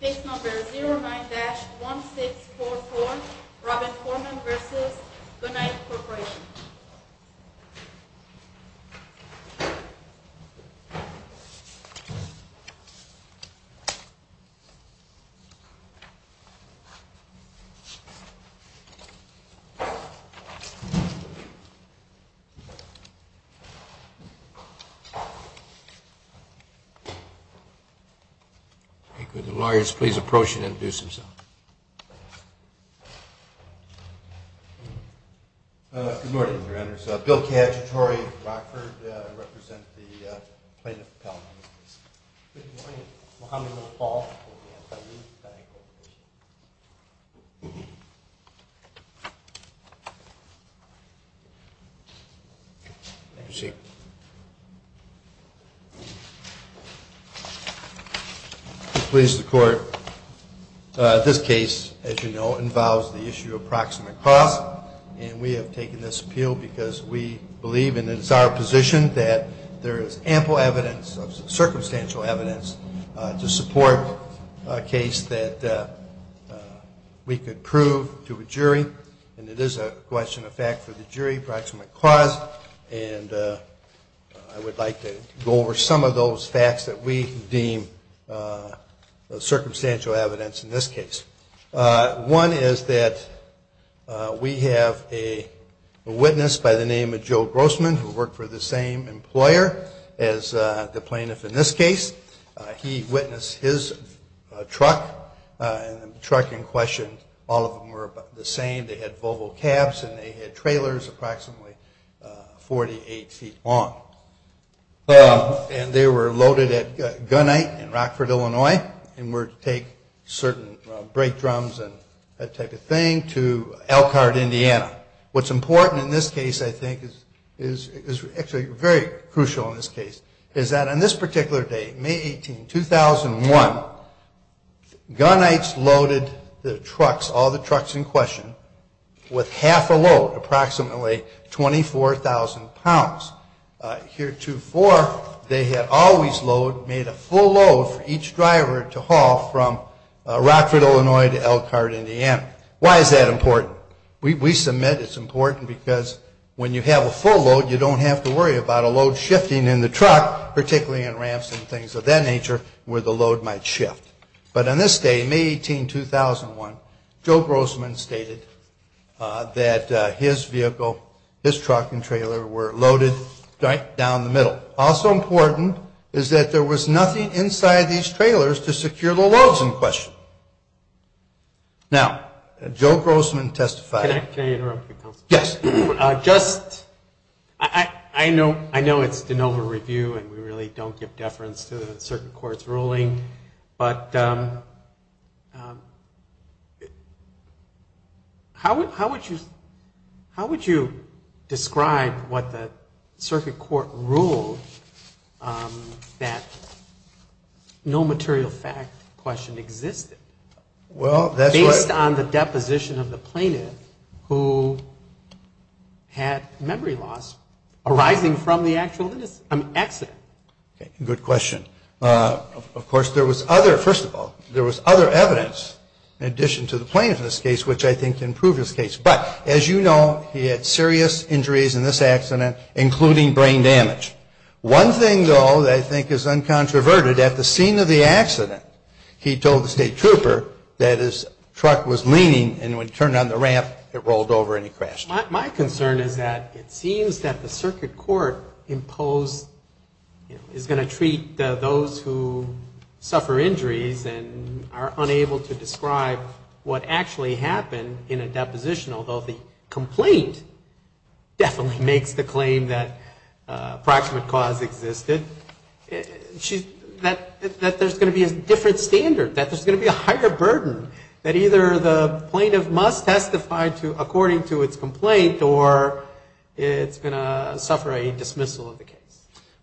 Case No. 09-1644, Robin Foreman v. Gunite Corporation Good morning, your honors. Bill Cacciatore of Rockford. I represent the plaintiff, Palomino. Good morning. Muhammad Mahbub. Thank you. I'm pleased to report this case, as you know, involves the issue of proximate costs, and we have taken this appeal because we believe, and it is our position, that there is no other case that we could prove to a jury, and it is a question of fact for the jury, proximate cost, and I would like to go over some of those facts that we deem circumstantial evidence in this case. One is that we have a witness by the name of Joe Grossman, who worked for the same employer as the plaintiff in this case. He witnessed his truck, and the truck in question, all of them were the same. They had Volvo cabs, and they had trailers approximately 48 feet long, and they were loaded at Gunite in Rockford, Illinois, and would take certain brake drums and that type of thing to Elkhart, Indiana. What's important in this case, I think, is actually very crucial in this case, is that on this particular day, May 18, 2001, Gunites loaded their trucks, all the trucks in question, with half a load, approximately 24,000 pounds. Here to four, they had always made a full load for each driver to haul from Rockford, Illinois to Elkhart, Indiana. Why is that important? We submit it's important because when you have a full load, you don't have to worry about a load shifting in the truck, particularly in ramps and things of that nature, where the load might shift. But on this day, May 18, 2001, Joe Grossman stated that his vehicle, his truck and trailer were loaded right down the middle. Also important is that there was nothing inside these trailers to secure the loads in question. Now, Joe Grossman testified. Can I interrupt you, counsel? Yes. Just, I know it's de novo review, and we really don't give deference to the circuit court's ruling, but how would you describe what the circuit court ruled that no material fact question existed based on the deposition of the plaintiff who had memory loss arising from the actual incident? Good question. Of course, there was other, first of all, there was other evidence in addition to the plaintiff in this case, which I think can prove his case. But as you know, he had serious injuries in this accident, including brain damage. One thing, though, that I think is uncontroverted, at the scene of the accident, he told the state trooper that his truck was leaning, and when he turned on the ramp, it rolled over and he crashed. My concern is that it seems that the circuit court imposed, is going to treat those who suffer injuries and are unable to happen in a deposition, although the complaint definitely makes the claim that approximate cause existed, that there's going to be a different standard, that there's going to be a higher burden, that either the plaintiff must testify according to its complaint, or it's going to suffer a dismissal of the case.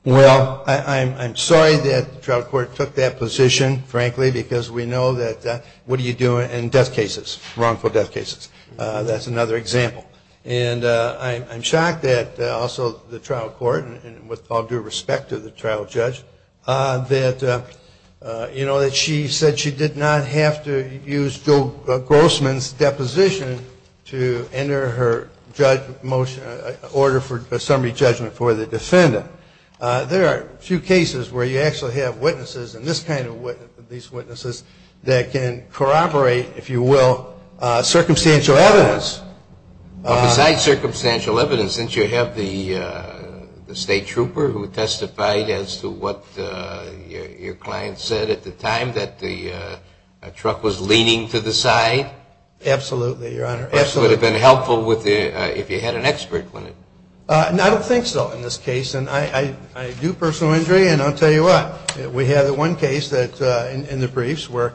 Well, I'm sorry that the trial court took that position, frankly, because we know that what do you do in death cases? Wrongful death cases. That's another example. And I'm shocked that also the trial court, and with all due respect to the trial judge, that she said she did not have to use Joe Grossman's deposition to enter her order for summary judgment for the defendant. There are a few cases where you actually have witnesses, and these witnesses, that can corroborate, if you will, circumstantial evidence. Well, besides circumstantial evidence, didn't you have the state trooper who testified as to what your client said at the time, that the truck was leaning to the side? Absolutely, Your Honor. It would have been helpful if you had an expert. I don't think so in this case, and I do personal injury, and I'll tell you what. We had one case in the briefs where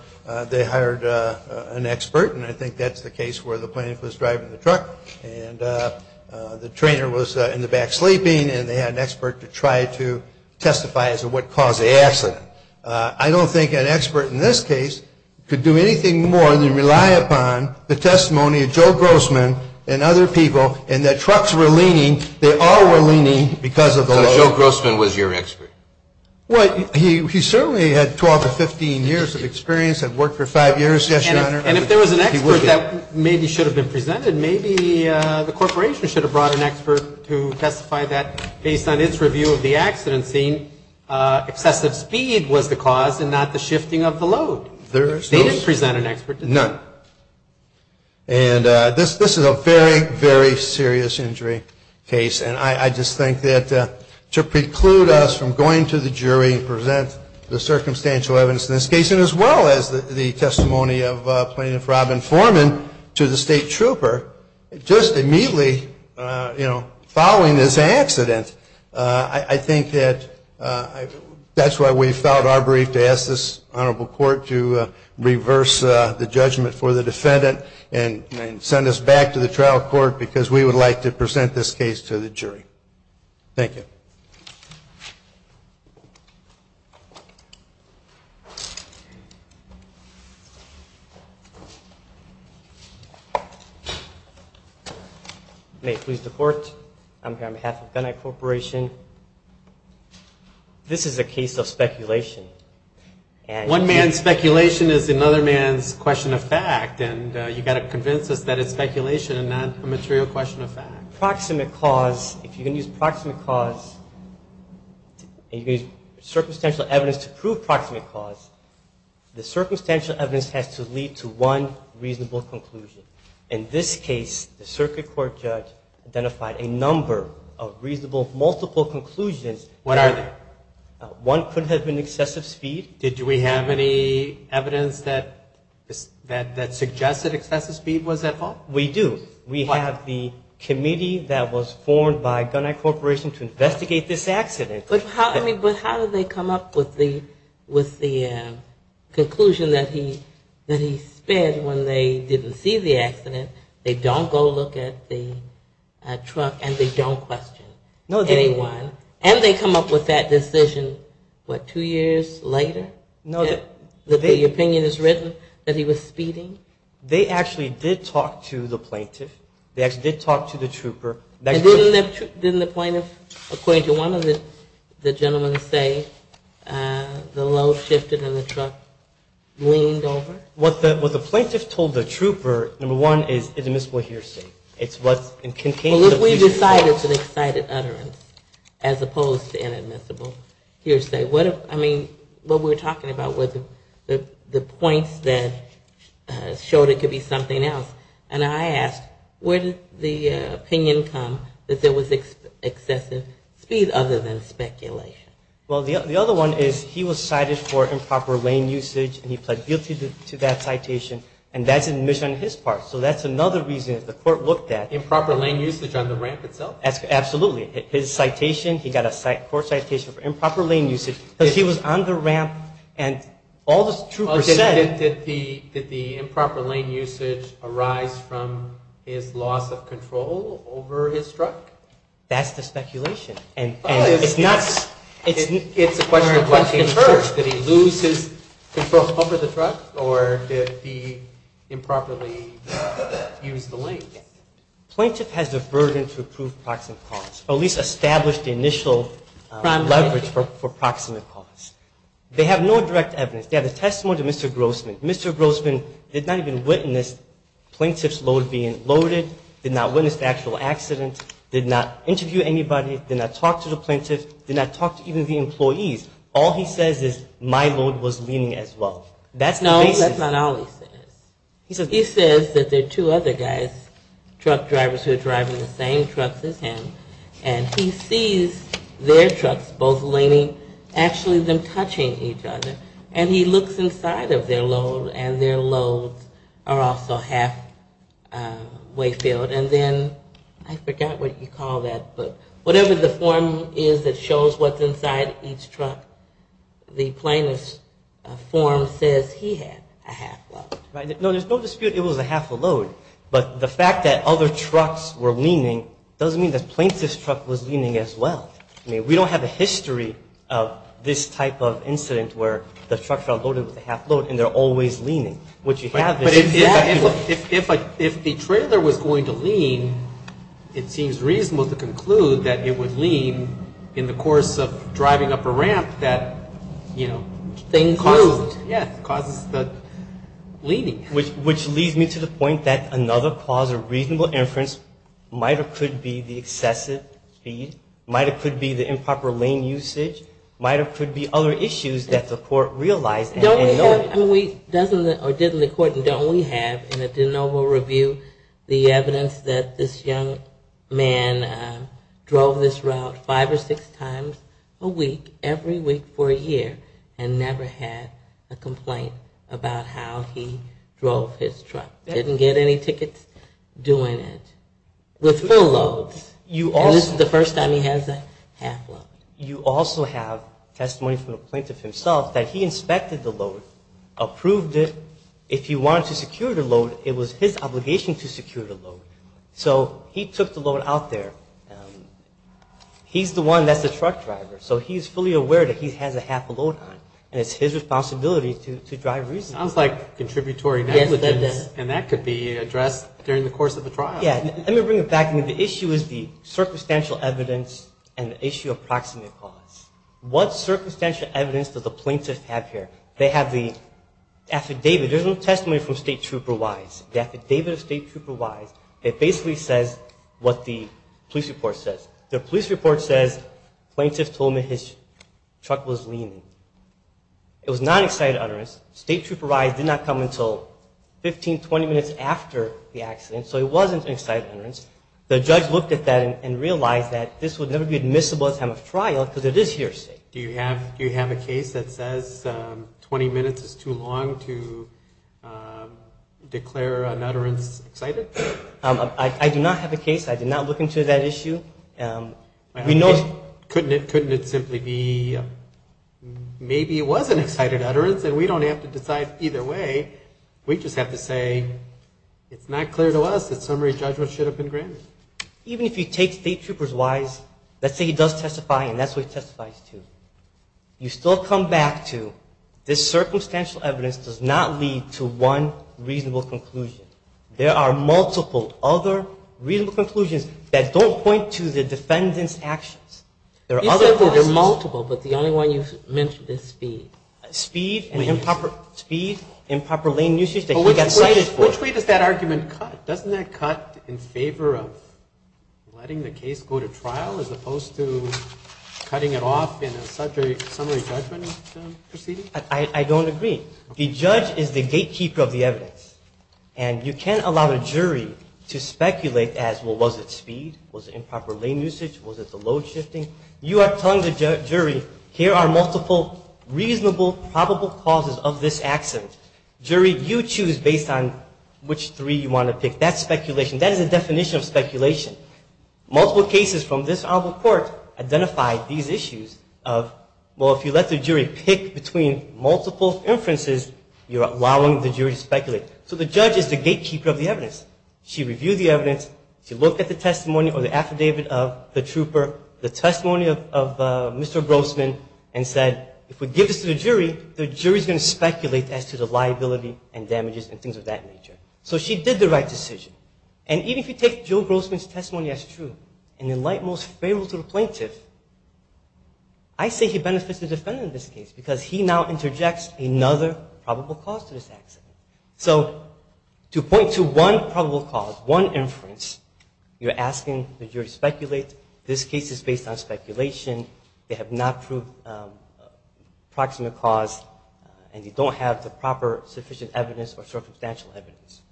they hired an expert, and I think that's the case where the plaintiff was driving the truck, and the trainer was in the back sleeping, and they had an expert to try to testify as to what caused the accident. I don't think an expert in this case could do anything more than rely upon the testimony of Joe Grossman and other people, and that truck's were leaning. They all were leaning because of the load. So Joe Grossman was your expert? Well, he certainly had 12 to 15 years of experience, had worked for five years, yes, Your Honor. And if there was an expert that maybe should have been presented, maybe the corporation should have brought an expert to testify that based on its review of the accident scene, excessive speed was the cause and not the shifting of the load. They didn't present an expert, did they? None. And this is a very, very serious injury case, and I just think that to preclude us from going to the jury and present the circumstantial evidence in this case, and as well as the testimony of Plaintiff Robin Foreman to the state trooper, just immediately, you know, following this accident, I think that that's why we filed our brief to ask this honorable court to reverse the judgment for the defendant and send us back to the trial court because we would like to present this case to the jury. Thank you. May it please the court, on behalf of Gunitech Corporation, this is a case of speculation. One man's speculation is another man's question of fact, and you've got to convince us that it's speculation and not a material question of fact. Proximate cause, if you're going to use proximate cause, and you're going to use circumstantial evidence to prove proximate cause, the circumstantial evidence has to lead to one reasonable conclusion. In this case, the circuit court judge identified a number of reasonable multiple conclusions. What are they? One could have been excessive speed. Did we have any evidence that suggested excessive speed was at fault? We do. We have the committee that was formed by Gunitech Corporation to investigate this accident. But how did they come up with the conclusion that he sped when they didn't see the accident? They don't go look at the truck, and they don't question anyone. And they come up with that decision, what, two years later, that the opinion is written that he was speeding? They actually did talk to the plaintiff. They actually did talk to the trooper. And didn't the plaintiff, according to one of the gentlemen say, the load shifted and the truck leaned over? What the plaintiff told the trooper, number one, is an admissible hearsay. Well, we decided it's an excited utterance as opposed to inadmissible hearsay. I mean, what we were talking about was the points that showed it could be something else. And I asked, where did the opinion come that there was excessive speed other than speculation? Well, the other one is he was cited for improper lane usage, and he pled guilty to that citation. And that's admission on his part. So that's another reason the court looked at. Improper lane usage on the ramp itself? Absolutely. His citation, he got a court citation for improper lane usage because he was on the ramp, and all the troopers said. Did the improper lane usage arise from his loss of control over his truck? That's the speculation. It's a question of what he heard. Did he lose his control over the truck, or did he improperly use the lane? Plaintiff has the burden to prove proximate cause, or at least establish the initial leverage for proximate cause. They have no direct evidence. They have a testimony to Mr. Grossman. Mr. Grossman did not even witness plaintiff's load being loaded, did not witness the actual accident, did not interview anybody, did not talk to the plaintiff, did not talk to even the employees. All he says is my load was leaning as well. That's the basis. No, that's not all he says. He says that there are two other guys, truck drivers who are driving the same trucks as him, and he sees their trucks both leaning, actually them touching each other. And he looks inside of their load, and their loads are also halfway filled. And then, I forgot what you call that, but whatever the form is that shows what's inside each truck, the plaintiff's form says he had a half load. Right. No, there's no dispute it was a half a load. But the fact that other trucks were leaning doesn't mean that plaintiff's truck was leaning as well. I mean, we don't have a history of this type of incident where the truck got loaded with a half load, and they're always leaning. But if the trailer was going to lean, it seems reasonable to conclude that it would lean in the course of driving up a ramp that, you know, causes the leaning. Which leads me to the point that another cause of reasonable inference might or could be the excessive speed, might or could be the improper lane usage, might or could be other issues that the court realized. I mean, we did in the court, and don't we have in a de novo review the evidence that this young man drove this route five or six times a week, every week for a year, and never had a complaint about how he drove his truck. Didn't get any tickets doing it. With full loads. And this is the first time he has a half load. You also have testimony from the plaintiff himself that he inspected the load, approved it. If he wanted to secure the load, it was his obligation to secure the load. So he took the load out there. He's the one that's the truck driver, so he's fully aware that he has a half a load on, and it's his responsibility to drive reasonably. Sounds like contributory negligence, and that could be addressed during the course of the trial. Yeah, let me bring it back. I mean, the issue is the circumstantial evidence and the issue of proximate cause. What circumstantial evidence does the plaintiff have here? They have the affidavit. There's no testimony from State Trooper Wise. The affidavit of State Trooper Wise, it basically says what the police report says. The police report says plaintiff told me his truck was leaning. It was not an excited utterance. State Trooper Wise did not come until 15, 20 minutes after the accident, so it wasn't an excited utterance. The judge looked at that and realized that this would never be admissible at the time of trial because it is hearsay. Do you have a case that says 20 minutes is too long to declare an utterance excited? I do not have a case. I did not look into that issue. Couldn't it simply be maybe it was an excited utterance, and we don't have to decide either way. We just have to say it's not clear to us that some of these judgments should have been granted. Even if you take State Trooper Wise, let's say he does testify and that's what he testifies to, you still come back to this circumstantial evidence does not lead to one reasonable conclusion. There are multiple other reasonable conclusions that don't point to the defendant's actions. You said there are multiple, but the only one you mentioned is speed. Speed and improper lane usage that he got excited for. Which way does that argument cut? Doesn't that cut in favor of letting the case go to trial as opposed to cutting it off in a summary judgment proceeding? I don't agree. The judge is the gatekeeper of the evidence, and you can't allow the jury to speculate as, well, was it speed, was it improper lane usage, was it the load shifting? You are telling the jury here are multiple reasonable probable causes of this accident. Jury, you choose based on which three you want to pick. That's speculation. That is the definition of speculation. Multiple cases from this honorable court identify these issues of, well, if you let the jury pick between multiple inferences, you're allowing the jury to speculate. So the judge is the gatekeeper of the evidence. She reviewed the evidence. She looked at the testimony or the affidavit of the trooper. The testimony of Mr. Grossman and said, if we give this to the jury, the jury is going to speculate as to the liability and damages and things of that nature. So she did the right decision. And even if you take Joe Grossman's testimony as true and in light most favorable to the plaintiff, I say he benefits the defendant in this case because he now interjects another probable cause to this accident. So to point to one probable cause, one inference, you're asking the jury to speculate. This case is based on speculation. They have not proved a proximate cause, and you don't have the proper sufficient evidence or circumstantial evidence.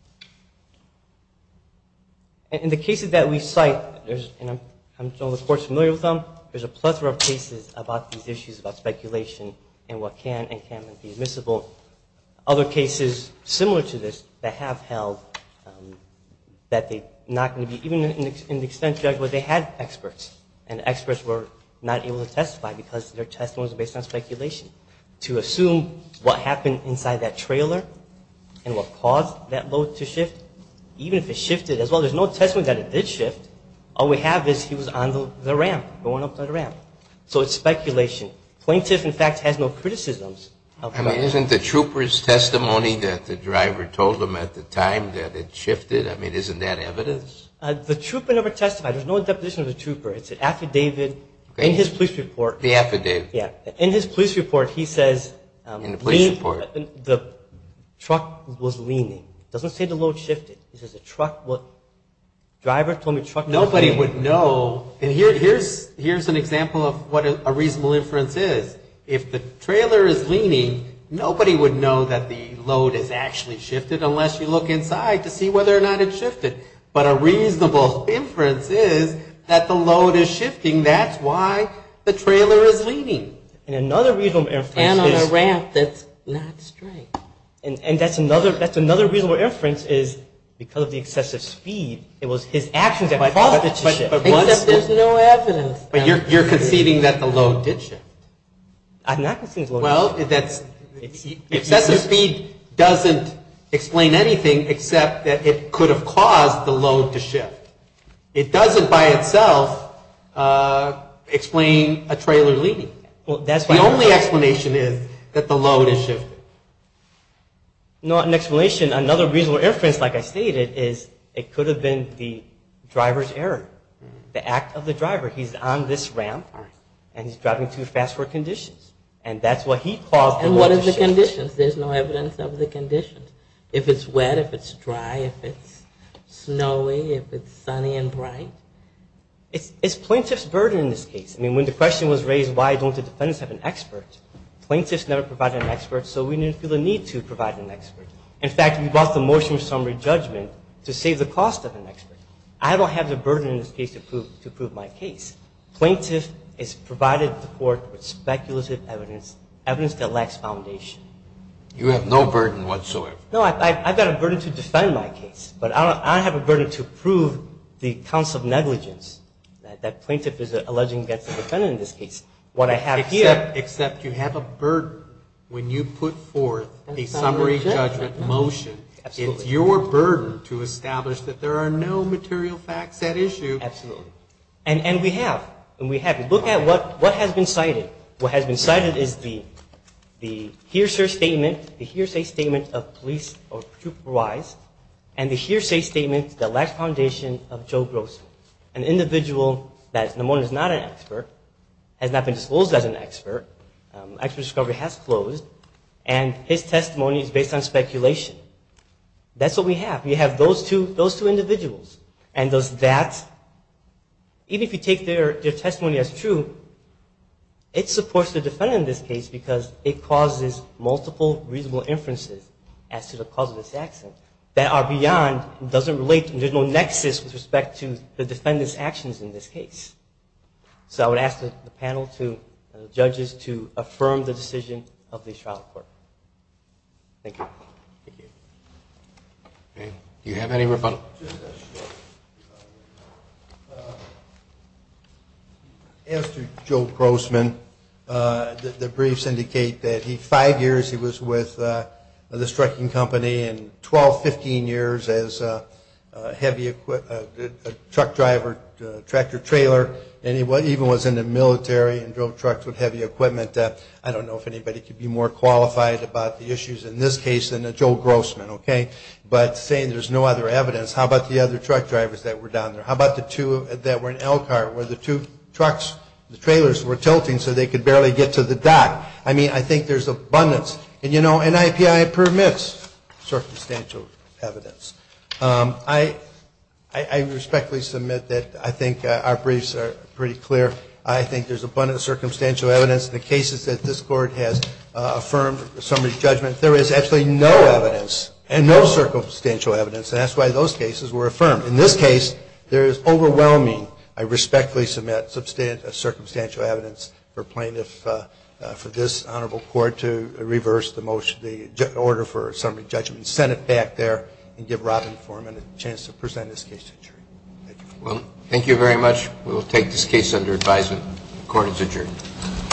In the cases that we cite, and I'm sure the court is familiar with them, there's a plethora of cases about these issues about speculation and what can and can't be admissible. Other cases similar to this that have held that they're not going to be, even in the extent judged, where they had experts, and experts were not able to testify because their testimony was based on speculation. To assume what happened inside that trailer and what caused that load to shift, even if it shifted as well, there's no testimony that it did shift. All we have is he was on the ramp, going up the ramp. So it's speculation. The plaintiff, in fact, has no criticisms. I mean, isn't the trooper's testimony that the driver told him at the time that it shifted, I mean, isn't that evidence? The trooper never testified. There's no deposition of the trooper. It's an affidavit in his police report. The affidavit. Yeah. In his police report, he says the truck was leaning. It doesn't say the load shifted. It says the truck was – driver told me truck was leaning. Nobody would know. And here's an example of what a reasonable inference is. If the trailer is leaning, nobody would know that the load has actually shifted unless you look inside to see whether or not it shifted. But a reasonable inference is that the load is shifting. That's why the trailer is leaning. And another reasonable inference is – And on a ramp that's not straight. And that's another reasonable inference is because of the excessive speed, it was his actions that caused it to shift. Except there's no evidence. But you're conceding that the load did shift. I'm not conceding the load did shift. Well, that's – excessive speed doesn't explain anything except that it could have caused the load to shift. It doesn't by itself explain a trailer leaning. Well, that's why – The only explanation is that the load has shifted. Not an explanation. Another reasonable inference, like I stated, is it could have been the driver's error. The act of the driver. He's on this ramp, and he's driving too fast for conditions. And that's what he caused the load to shift. And what are the conditions? There's no evidence of the conditions. If it's wet, if it's dry, if it's snowy, if it's sunny and bright. It's plaintiff's burden in this case. I mean, when the question was raised, why don't the defendants have an expert, plaintiffs never provided an expert, so we didn't feel the need to provide an expert. I don't have the burden in this case to prove my case. Plaintiff is provided support with speculative evidence, evidence that lacks foundation. You have no burden whatsoever. No, I've got a burden to defend my case, but I don't have a burden to prove the counts of negligence that plaintiff is alleging against the defendant in this case. What I have here – Except you have a burden when you put forth a summary judgment motion. Absolutely. It is your burden to establish that there are no material facts at issue. Absolutely. And we have. And we have. Look at what has been cited. What has been cited is the hearsay statement, the hearsay statement of police or trooper wise, and the hearsay statement that lacks foundation of Joe Grossman, an individual that at the moment is not an expert, has not been disclosed as an expert, expert discovery has closed, and his testimony is based on speculation. That's what we have. We have those two individuals. And does that – even if you take their testimony as true, it supports the defendant in this case because it causes multiple reasonable inferences as to the cause of this accident that are beyond, doesn't relate, there's no nexus with respect to the defendant's actions in this case. So I would ask the panel, the judges, to affirm the decision of the trial court. Thank you. Thank you. Do you have any rebuttal? As to Joe Grossman, the briefs indicate that five years he was with this trucking company and 12, 15 years as a truck driver, tractor trailer, and he even was in the military and drove trucks with heavy equipment. I don't know if anybody could be more qualified about the issues in this case than Joe Grossman, okay? But saying there's no other evidence, how about the other truck drivers that were down there? How about the two that were in Elkhart where the two trucks, the trailers were tilting so they could barely get to the dock? I mean, I think there's abundance. And, you know, NIPI permits circumstantial evidence. I respectfully submit that I think our briefs are pretty clear. I think there's abundance of circumstantial evidence. The cases that this Court has affirmed, the summary judgment, there is absolutely no evidence and no circumstantial evidence, and that's why those cases were affirmed. In this case, there is overwhelming, I respectfully submit, substantial circumstantial evidence for plaintiff for this honorable court to reverse the motion, the order for summary judgment, send it back there, and give Robin Foreman a chance to present this case to the jury. Thank you. Well, thank you very much. We will take this case under advisement. Court is adjourned.